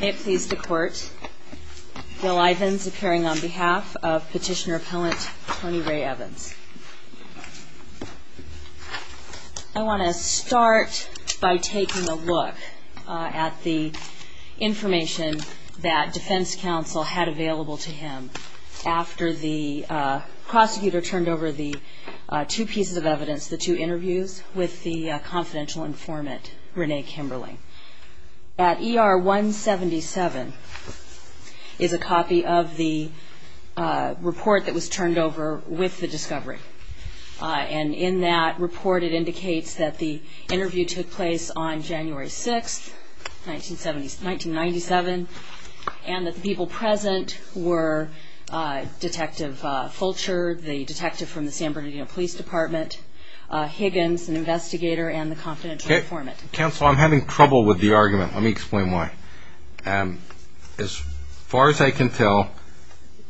May it please the Court, Bill Ivins appearing on behalf of Petitioner Appellant Tony Ray Evans. I want to start by taking a look at the information that Defense Counsel had available to him after the prosecutor turned over the two pieces of evidence, the two interviews, with the confidential informant, Renee Kimberling. That ER 177 is a copy of the report that was turned over with the discovery. And in that report it indicates that the interview took place on January 6, 1997, and that the people present were Detective Fulcher, the detective from the San Bernardino Police Department, Higgins, an investigator, and the confidential informant. Counsel, I'm having trouble with the argument. Let me explain why. As far as I can tell,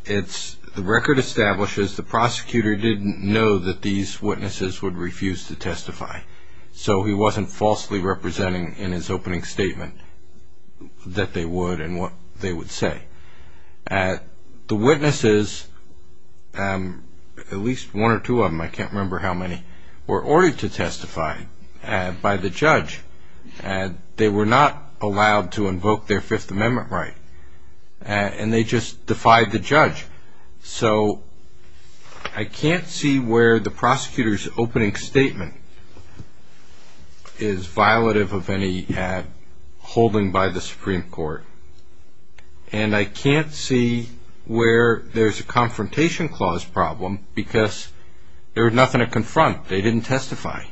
the record establishes the prosecutor didn't know that these witnesses would refuse to testify, so he wasn't falsely representing in his opening statement that they would and what they would say. The witnesses, at least one or two of them, I can't remember how many, were ordered to testify by the judge. They were not allowed to invoke their Fifth Amendment right, and they just defied the judge. So I can't see where the prosecutor's opening statement is violative of any holding by the Supreme Court, and I can't see where there's a confrontation clause problem because there was nothing to confront. They didn't testify.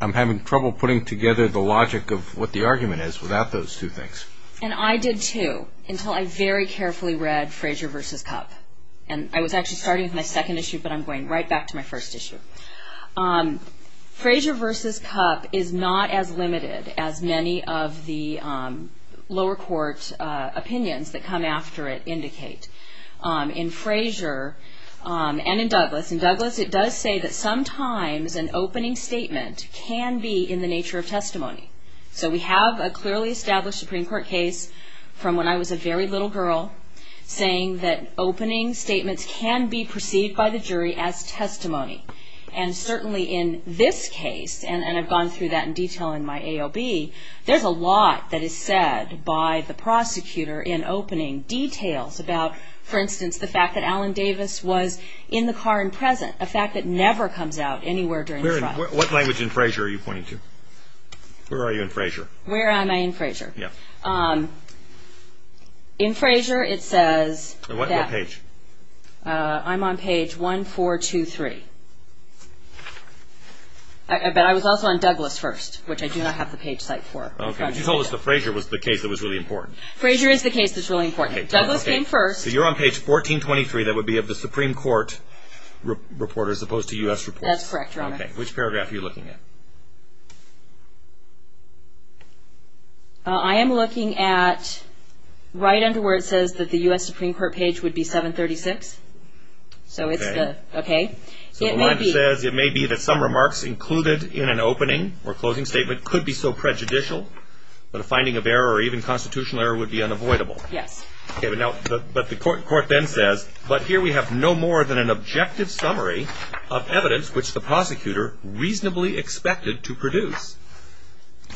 I'm having trouble putting together the logic of what the argument is without those two things. And I did, too, until I very carefully read Frazier v. Cupp. And I was actually starting with my second issue, but I'm going right back to my first issue. Frazier v. Cupp is not as limited as many of the lower court opinions that come after it indicate. In Frazier and in Douglas, in Douglas it does say that sometimes an opening statement can be in the nature of testimony. So we have a clearly established Supreme Court case from when I was a very little girl saying that opening statements can be perceived by the jury as testimony. And certainly in this case, and I've gone through that in detail in my AOB, there's a lot that is said by the prosecutor in opening details about, for instance, the fact that Alan Davis was in the car in present, a fact that never comes out anywhere during the trial. What language in Frazier are you pointing to? Where are you in Frazier? Where am I in Frazier? Yeah. In Frazier it says that... What page? I'm on page 1423. But I was also on Douglas first, which I do not have the page cite for. Okay, but you told us that Frazier was the case that was really important. Frazier is the case that's really important. Douglas came first. So you're on page 1423. That would be of the Supreme Court reporter as opposed to U.S. reports. That's correct, Your Honor. Okay, which paragraph are you looking at? I am looking at right under where it says that the U.S. Supreme Court page would be 736. So it's the... Okay. Okay. So the line says it may be that some remarks included in an opening or closing statement could be so prejudicial that a finding of error or even constitutional error would be unavoidable. Yes. Okay, but now, but the court then says, but here we have no more than an objective summary of evidence which the prosecutor reasonably expected to produce.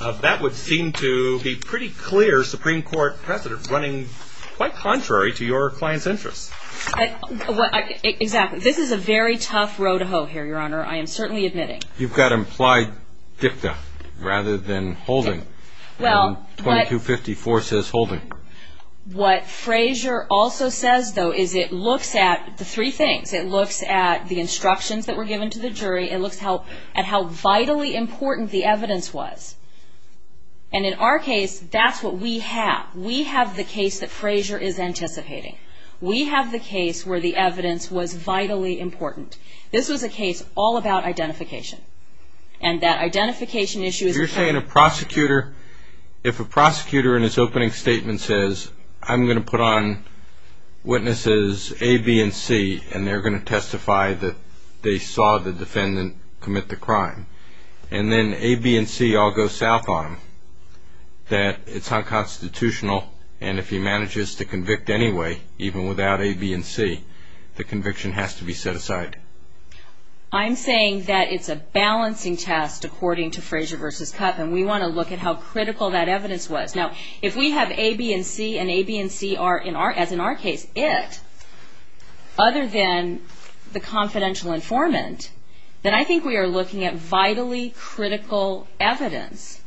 That would seem to be pretty clear Supreme Court precedent running quite contrary to your client's interests. Exactly. This is a very tough row to hoe here, Your Honor. I am certainly admitting. You've got implied dicta rather than holding. Okay. Well, but... 2254 says holding. What Frazier also says, though, is it looks at the three things. It looks at the instructions that were given to the jury. It looks at how vitally important the evidence was. And in our case, that's what we have. We have the case that Frazier is anticipating. We have the case where the evidence was vitally important. This was a case all about identification. And that identification issue is... You're saying a prosecutor, if a prosecutor in his opening statement says, I'm going to put on witnesses A, B, and C, and they're going to testify that they saw the defendant commit the crime, and then A, B, and C all go south on him, that it's unconstitutional, and if he manages to convict anyway, even without A, B, and C, the conviction has to be set aside. I'm saying that it's a balancing test according to Frazier v. Cuff, and we want to look at how critical that evidence was. Now, if we have A, B, and C, and A, B, and C are, as in our case, it, other than the confidential informant, then I think we are looking at vitally critical evidence.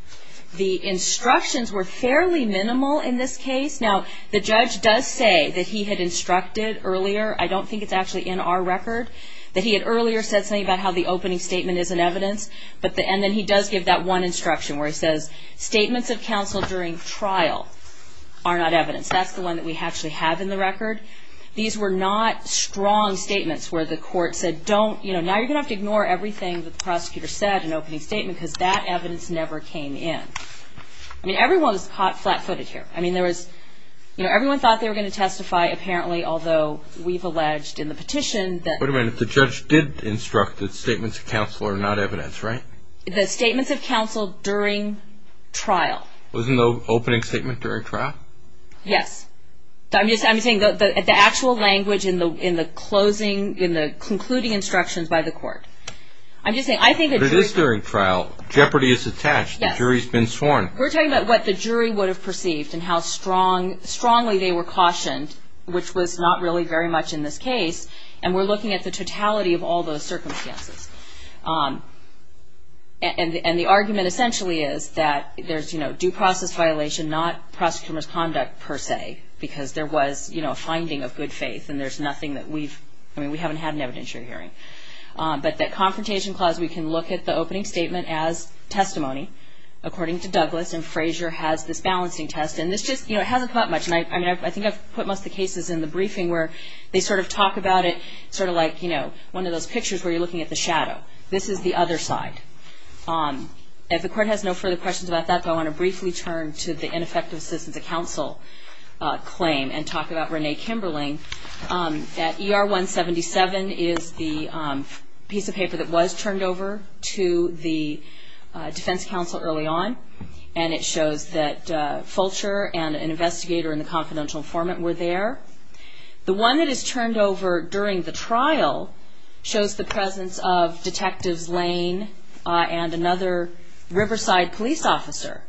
The instructions were fairly minimal in this case. Now, the judge does say that he had instructed earlier, I don't think it's actually in our record, that he had earlier said something about how the opening statement isn't evidence, and then he does give that one instruction where he says, statements of counsel during trial are not evidence. That's the one that we actually have in the record. These were not strong statements where the court said, now you're going to have to ignore everything that the prosecutor said in the opening statement because that evidence never came in. I mean, everyone was caught flat-footed here. I mean, everyone thought they were going to testify, apparently, although we've alleged in the petition that Wait a minute. The judge did instruct that statements of counsel are not evidence, right? The statements of counsel during trial. Wasn't the opening statement during trial? Yes. I'm just saying the actual language in the concluding instructions by the court. I'm just saying, I think the jury But it is during trial. Jeopardy is attached. The jury's been sworn. We're talking about what the jury would have perceived and how strongly they were cautioned, which was not really very much in this case, and we're looking at the totality of all those circumstances. And the argument essentially is that there's due process violation, not prosecutor's conduct per se, because there was a finding of good faith and there's nothing that we've, I mean, we haven't had an evidentiary hearing. But that confrontation clause, we can look at the opening statement as testimony, according to Douglas, and Frazier has this balancing test. And this just hasn't caught much. And I think I've put most of the cases in the briefing where they sort of talk about it sort of like, you know, one of those pictures where you're looking at the shadow. This is the other side. If the court has no further questions about that, I want to briefly turn to the ineffective assistance of counsel claim and talk about Renee Kimberling. That ER 177 is the piece of paper that was turned over to the defense counsel early on, and it shows that Fulcher and an investigator in the confidential informant were there. The one that is turned over during the trial shows the presence of Detectives Lane and another Riverside police officer.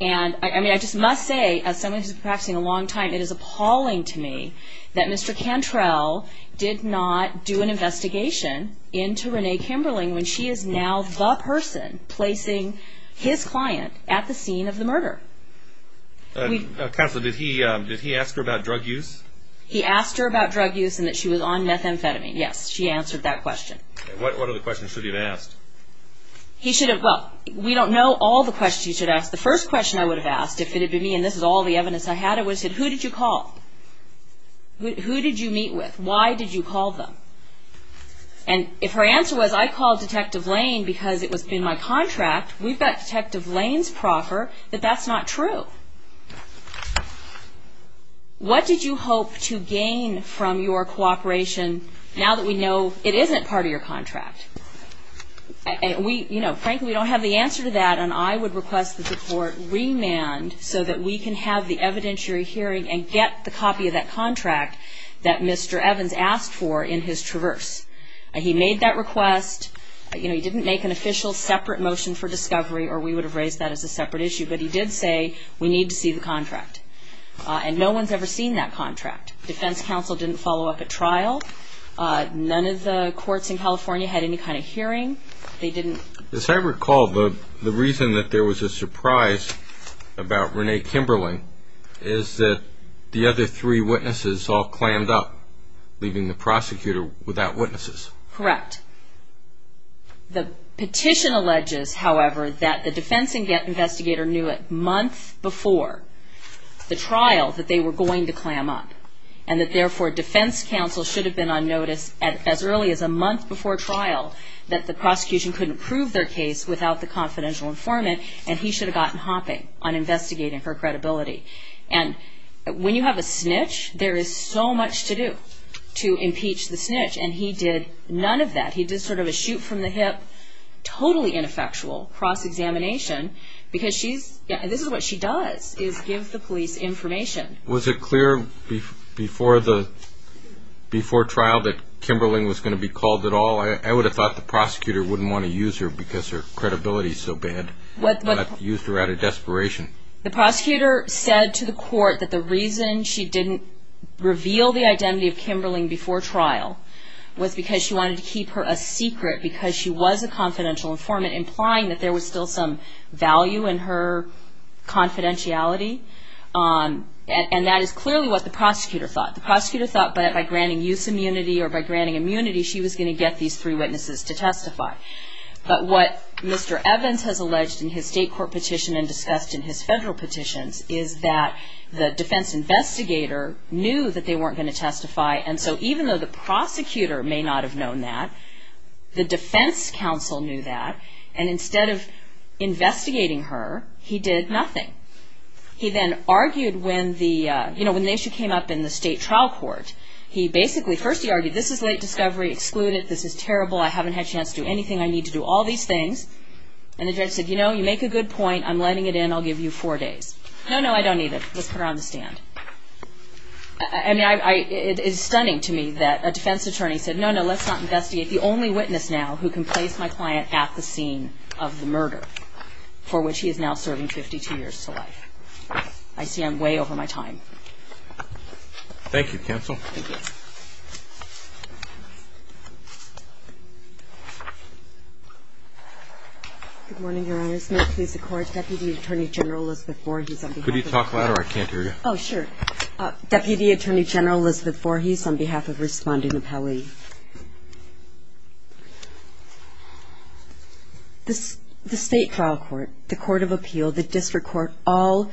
And, I mean, I just must say, as someone who's been practicing a long time, it is appalling to me that Mr. Cantrell did not do an investigation into Renee Kimberling when she is now the person placing his client at the scene of the murder. Counselor, did he ask her about drug use? He asked her about drug use and that she was on methamphetamine. Yes, she answered that question. What other questions should he have asked? He should have, well, we don't know all the questions he should have asked. The first question I would have asked, if it had been me and this is all the evidence I had, I would have said, who did you call? Who did you meet with? Why did you call them? And if her answer was, I called Detective Lane because it was in my contract, we've got Detective Lane's proffer, that that's not true. What did you hope to gain from your cooperation now that we know it isn't part of your contract? Frankly, we don't have the answer to that, and I would request that the Court remand so that we can have the evidentiary hearing and get the copy of that contract that Mr. Evans asked for in his traverse. He made that request. You know, he didn't make an official separate motion for discovery or we would have raised that as a separate issue, but he did say we need to see the contract. And no one's ever seen that contract. Defense counsel didn't follow up at trial. None of the courts in California had any kind of hearing. They didn't. As I recall, the reason that there was a surprise about Renee Kimberling is that the other three witnesses all clammed up, leaving the prosecutor without witnesses. Correct. The petition alleges, however, that the defense investigator knew a month before the trial that they were going to clam up, and that therefore defense counsel should have been on notice as early as a month before trial that the prosecution couldn't prove their case without the confidential informant, and he should have gotten hopping on investigating her credibility. And when you have a snitch, there is so much to do to impeach the snitch, and he did none of that. He did sort of a shoot-from-the-hip, totally ineffectual cross-examination because this is what she does is give the police information. Was it clear before trial that Kimberling was going to be called at all? I would have thought the prosecutor wouldn't want to use her because her credibility is so bad, not use her out of desperation. The prosecutor said to the court that the reason she didn't reveal the identity of Kimberling before trial was because she wanted to keep her a secret because she was a confidential informant, implying that there was still some value in her confidentiality, and that is clearly what the prosecutor thought. The prosecutor thought that by granting use immunity or by granting immunity, she was going to get these three witnesses to testify. But what Mr. Evans has alleged in his state court petition and discussed in his federal petitions is that the defense investigator knew that they weren't going to testify, and so even though the prosecutor may not have known that, the defense counsel knew that, and instead of investigating her, he did nothing. He then argued when the issue came up in the state trial court, he basically, first he argued this is late discovery, exclude it, this is terrible, I haven't had a chance to do anything, I need to do all these things, and the judge said, you know, you make a good point, I'm letting it in, I'll give you four days. No, no, I don't need it, let's put her on the stand. I mean, it is stunning to me that a defense attorney said, no, no, let's not investigate, the only witness now who can place my client at the scene of the murder for which he is now serving 52 years to life. I see I'm way over my time. Thank you, counsel. Thank you. Good morning, Your Honors. May it please the Court, Deputy Attorney General Elizabeth Voorhees. Could you talk louder? I can't hear you. Oh, sure. Deputy Attorney General Elizabeth Voorhees on behalf of Responding Appellee. The State Trial Court, the Court of Appeal, the District Court, all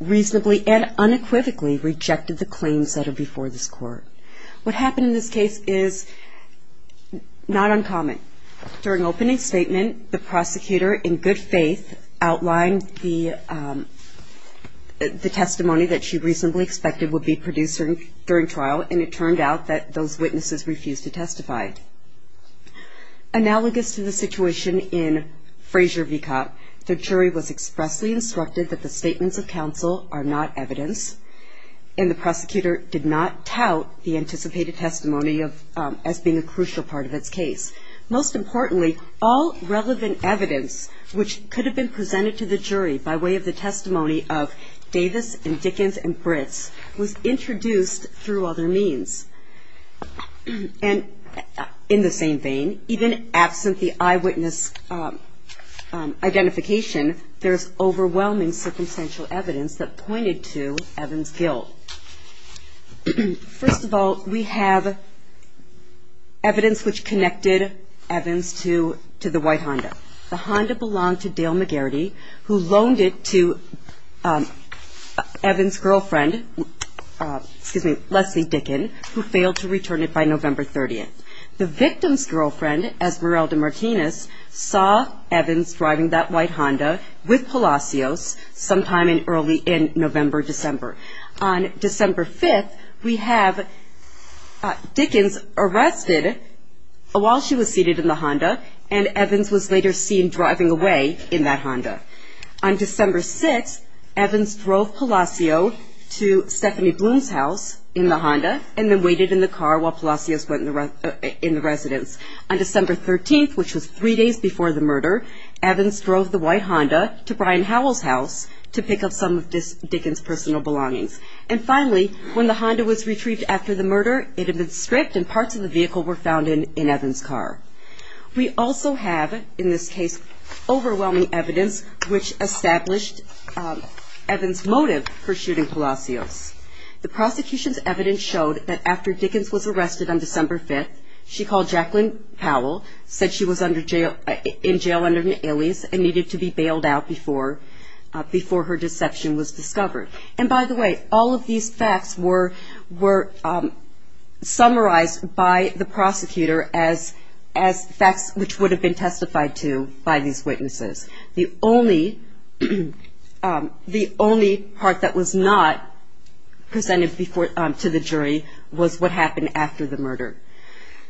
reasonably and unequivocally rejected the claims that are before this Court. What happened in this case is not uncommon. During opening statement, the prosecutor, in good faith, outlined the testimony that she reasonably expected would be produced during trial, and it turned out that those witnesses refused to testify. Analogous to the situation in Fraser v. Copp, the jury was expressly instructed that the statements of counsel are not evidence, and the prosecutor did not tout the anticipated testimony as being a crucial part of its case. Most importantly, all relevant evidence which could have been presented to the jury by way of the testimony of Davis and Dickens and Britz was introduced through other means. And in the same vein, even absent the eyewitness identification, there's overwhelming circumstantial evidence that pointed to Evans' guilt. First of all, we have evidence which connected Evans to the white Honda. The Honda belonged to Dale McGarity, who loaned it to Evans' girlfriend, Leslie Dickens, who failed to return it by November 30th. The victim's girlfriend, Esmeralda Martinez, saw Evans driving that white Honda with Palacios sometime early in November, December. On December 5th, we have Dickens arrested while she was seated in the Honda, and Evans was later seen driving away in that Honda. On December 6th, Evans drove Palacios to Stephanie Bloom's house in the Honda and then waited in the car while Palacios went in the residence. On December 13th, which was three days before the murder, Evans drove the white Honda to Brian Howell's house to pick up some of Dickens' personal belongings. And finally, when the Honda was retrieved after the murder, it had been stripped and parts of the vehicle were found in Evans' car. We also have, in this case, overwhelming evidence which established Evans' motive for shooting Palacios. The prosecution's evidence showed that after Dickens was arrested on December 5th, she called Jacqueline Powell, said she was in jail under an alias, and needed to be bailed out before her deception was discovered. And by the way, all of these facts were summarized by the prosecutor as facts which would have been testified to by these witnesses. The only part that was not presented to the jury was what happened after the murder.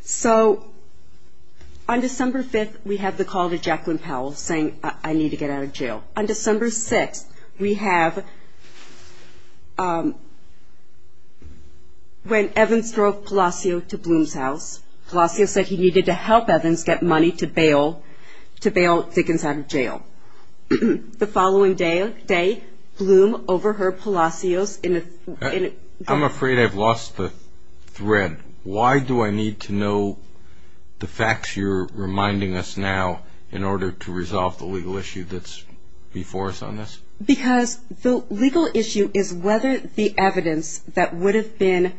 So, on December 5th, we have the call to Jacqueline Powell saying, I need to get out of jail. On December 6th, we have when Evans drove Palacios to Bloom's house, Palacios said he needed to help Evans get money to bail Dickens out of jail. The following day, Bloom overheard Palacios in a- I'm afraid I've lost the thread. Why do I need to know the facts you're reminding us now in order to resolve the legal issue that's before us on this? Because the legal issue is whether the evidence that would have been-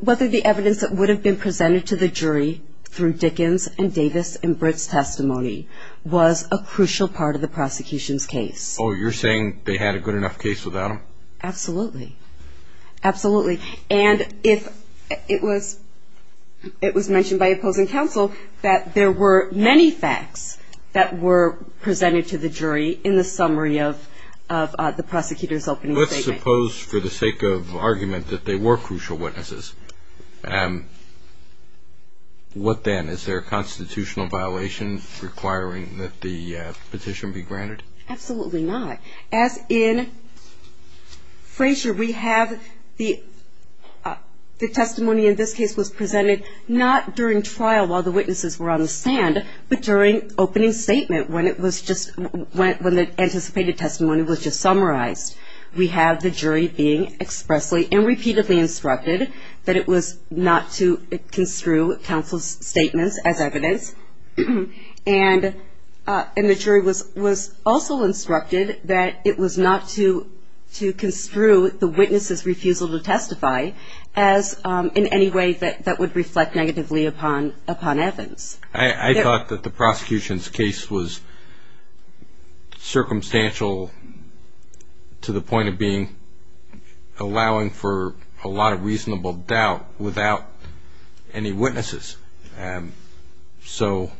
whether the evidence that would have been presented to the jury through Dickens' and Davis' and Britt's testimony was a crucial part of the prosecution's case. Oh, you're saying they had a good enough case without him? Absolutely. Absolutely. And it was mentioned by opposing counsel that there were many facts that were presented to the jury in the summary of the prosecutor's opening statement. Let's suppose for the sake of argument that they were crucial witnesses. What then? Is there a constitutional violation requiring that the petition be granted? Absolutely not. As in Frazier, we have the testimony in this case was presented not during trial while the witnesses were on the stand, but during opening statement when the anticipated testimony was just summarized. We have the jury being expressly and repeatedly instructed that it was not to construe counsel's statements as evidence. And the jury was also instructed that it was not to construe the witness' refusal to testify as in any way that would reflect negatively upon Evans. I thought that the prosecution's case was circumstantial to the point of being allowing for a lot of reasonable doubt without any witnesses. So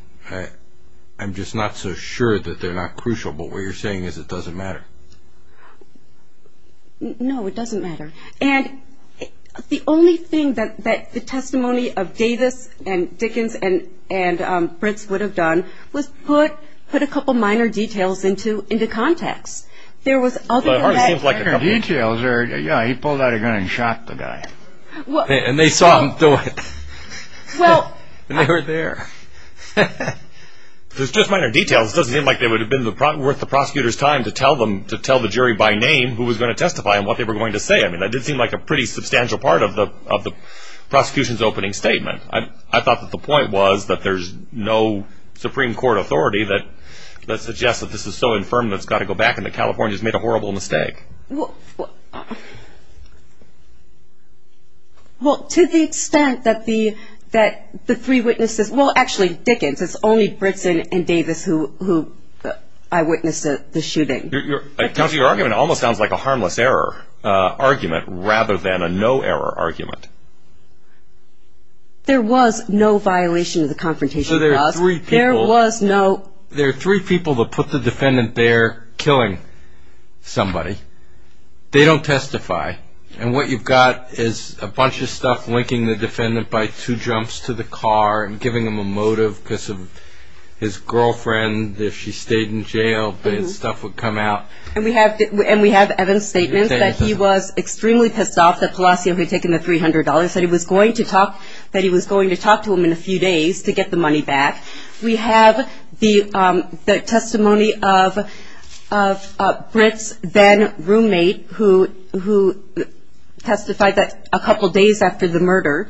I'm just not so sure that they're not crucial. But what you're saying is it doesn't matter. No, it doesn't matter. And the only thing that the testimony of Davis and Dickens and Brintz would have done was put a couple minor details into context. But it hardly seems like a couple of details. Yeah, he pulled out a gun and shot the guy. And they saw him do it. And they were there. There's just minor details. It doesn't seem like it would have been worth the prosecutor's time to tell the jury by name who was going to testify and what they were going to say. I mean, that did seem like a pretty substantial part of the prosecution's opening statement. I thought that the point was that there's no Supreme Court authority that suggests that this is so infirm that it's got to go back and that California's made a horrible mistake. Well, to the extent that the three witnesses, well, actually, Dickens, it's only Brintz and Davis who I witnessed the shooting. Your argument almost sounds like a harmless error argument rather than a no-error argument. There was no violation of the confrontation clause. So there are three people. There was no. There are three people that put the defendant there killing somebody. They don't testify. And what you've got is a bunch of stuff linking the defendant by two jumps to the car and giving him a motive because of his girlfriend, if she stayed in jail, bad stuff would come out. And we have Evans' statement that he was extremely pissed off that Palacio had taken the $300, that he was going to talk to him in a few days to get the money back. We have the testimony of Brintz's then-roommate who testified that a couple days after the murder,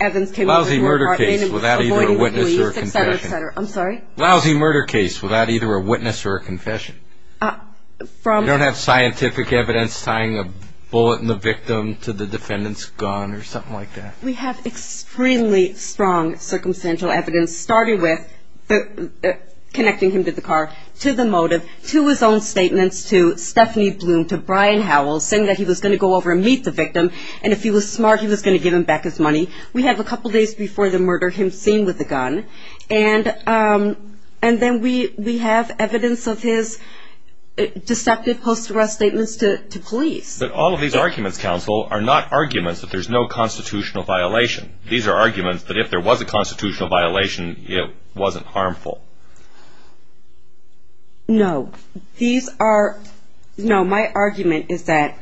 Evans came over to her apartment and was avoiding the police, et cetera, et cetera. I'm sorry? Lousy murder case without either a witness or a confession. You don't have scientific evidence tying a bullet in the victim to the defendant's gun or something like that. We have extremely strong circumstantial evidence starting with connecting him to the car, to the motive, to his own statements, to Stephanie Bloom, to Brian Howell, saying that he was going to go over and meet the victim, and if he was smart he was going to give him back his money. We have a couple days before the murder him seen with the gun. And then we have evidence of his deceptive post-arrest statements to police. But all of these arguments, counsel, are not arguments that there's no constitutional violation. These are arguments that if there was a constitutional violation, it wasn't harmful. No. These are no. My argument is that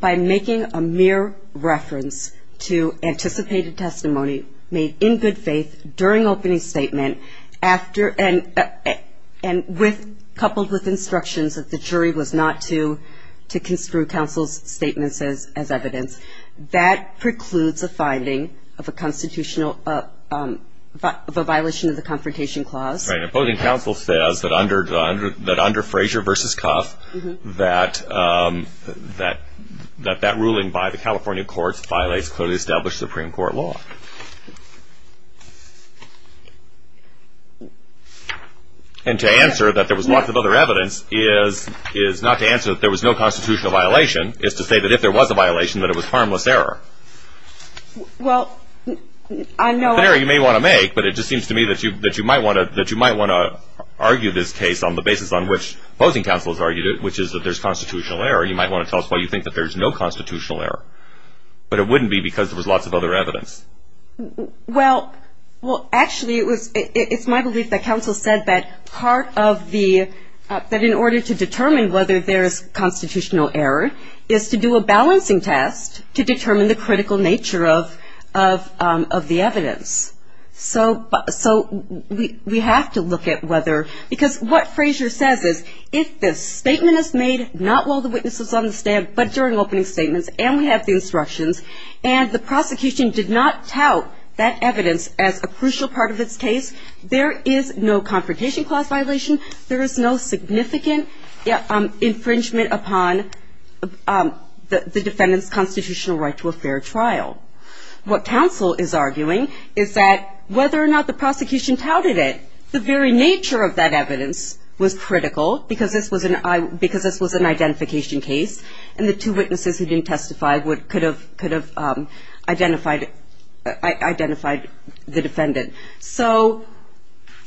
by making a mere reference to anticipated testimony made in good faith during opening statement, and coupled with instructions that the jury was not to construe counsel's statements as evidence, that precludes a finding of a violation of the Confrontation Clause. Right. And opposing counsel says that under Frazier v. Cuff, that that ruling by the California courts violates clearly established Supreme Court law. And to answer that there was lots of other evidence is not to answer that there was no constitutional violation, it's to say that if there was a violation, that it was harmless error. Well, I know. An error you may want to make, but it just seems to me that you might want to argue this case on the basis on which opposing counsel has argued it, which is that there's constitutional error. You might want to tell us why you think that there's no constitutional error. But it wouldn't be because there was lots of other evidence. Well, actually, it's my belief that counsel said that part of the, that in order to determine whether there's constitutional error, is to do a balancing test to determine the critical nature of the evidence. So we have to look at whether, because what Frazier says is if the statement is made, not while the witness is on the stand, but during opening statements, and we have the instructions, and the prosecution did not tout that evidence as a crucial part of its case, there is no Confrontation Clause violation, there is no significant infringement upon the defendant's constitutional right to a fair trial. What counsel is arguing is that whether or not the prosecution touted it, the very nature of that evidence was critical, because this was an identification case, and the two witnesses who didn't testify could have identified the defendant. So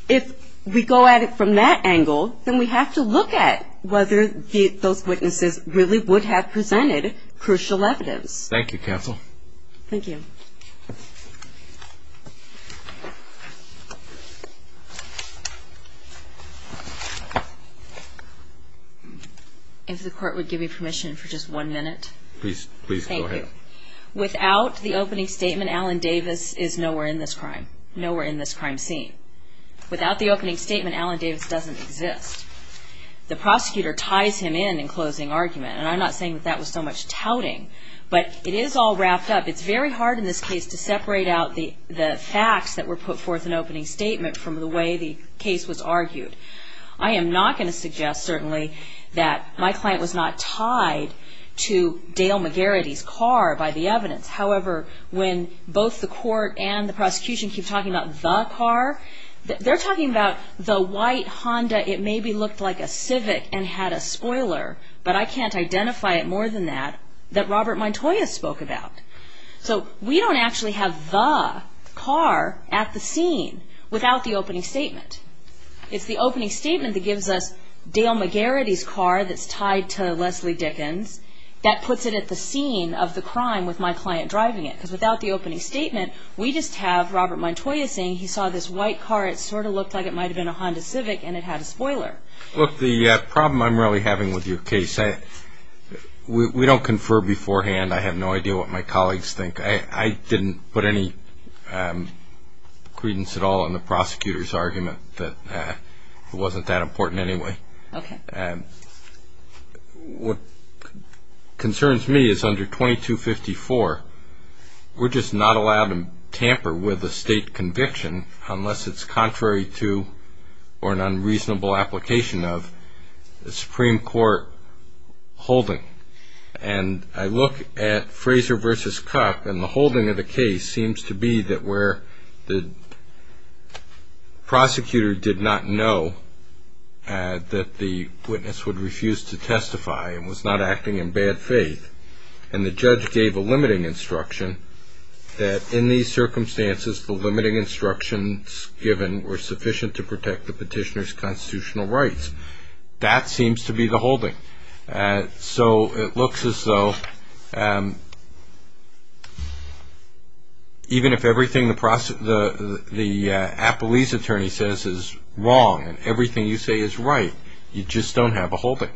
if we go at it from that angle, then we have to look at whether those witnesses really would have presented crucial evidence. Thank you, counsel. Thank you. If the court would give me permission for just one minute. Please, please go ahead. Thank you. Without the opening statement, Allen Davis is nowhere in this crime, nowhere in this crime scene. Without the opening statement, Allen Davis doesn't exist. The prosecutor ties him in in closing argument, and I'm not saying that that was so much touting, but it is all wrapped up. It's very hard in this case to separate out the facts that were put forth in opening statement from the way the case was argued. I am not going to suggest, certainly, that my client was not tied to Dale McGarrity's car by the evidence. However, when both the court and the prosecution keep talking about the car, they're talking about the white Honda, it maybe looked like a Civic and had a spoiler, but I can't identify it more than that, that Robert Montoya spoke about. So we don't actually have the car at the scene without the opening statement. It's the opening statement that gives us Dale McGarrity's car that's tied to Leslie Dickens that puts it at the scene of the crime with my client driving it. Because without the opening statement, we just have Robert Montoya saying he saw this white car, it sort of looked like it might have been a Honda Civic, and it had a spoiler. Look, the problem I'm really having with your case, we don't confer beforehand. I have no idea what my colleagues think. I didn't put any credence at all in the prosecutor's argument that it wasn't that important anyway. What concerns me is under 2254, we're just not allowed to tamper with a state conviction unless it's contrary to or an unreasonable application of a Supreme Court holding. And I look at Fraser v. Kuck, and the holding of the case seems to be that where the prosecutor did not know that the witness would refuse to testify and was not acting in bad faith, and the judge gave a limiting instruction, that in these circumstances, the limiting instructions given were sufficient to protect the petitioner's constitutional rights. That seems to be the holding. So it looks as though even if everything the appellee's attorney says is wrong and everything you say is right, you just don't have a holding.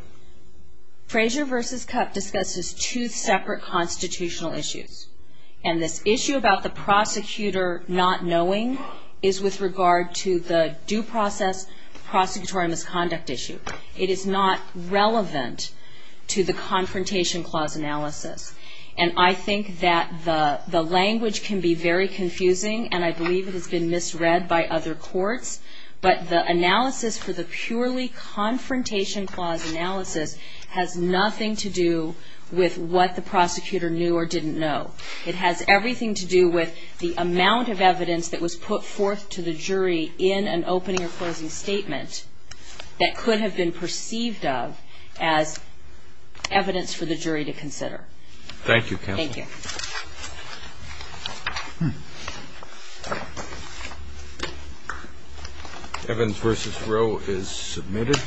Fraser v. Kuck discusses two separate constitutional issues. And this issue about the prosecutor not knowing is with regard to the due process prosecutorial misconduct issue. It is not relevant to the Confrontation Clause analysis. And I think that the language can be very confusing, and I believe it has been misread by other courts, but the analysis for the purely Confrontation Clause analysis has nothing to do with what the prosecutor knew or didn't know. It has everything to do with the amount of evidence that was put forth to the jury in an opening or closing statement that could have been perceived of as evidence for the jury to consider. Thank you. Evans v. Rowe is submitted.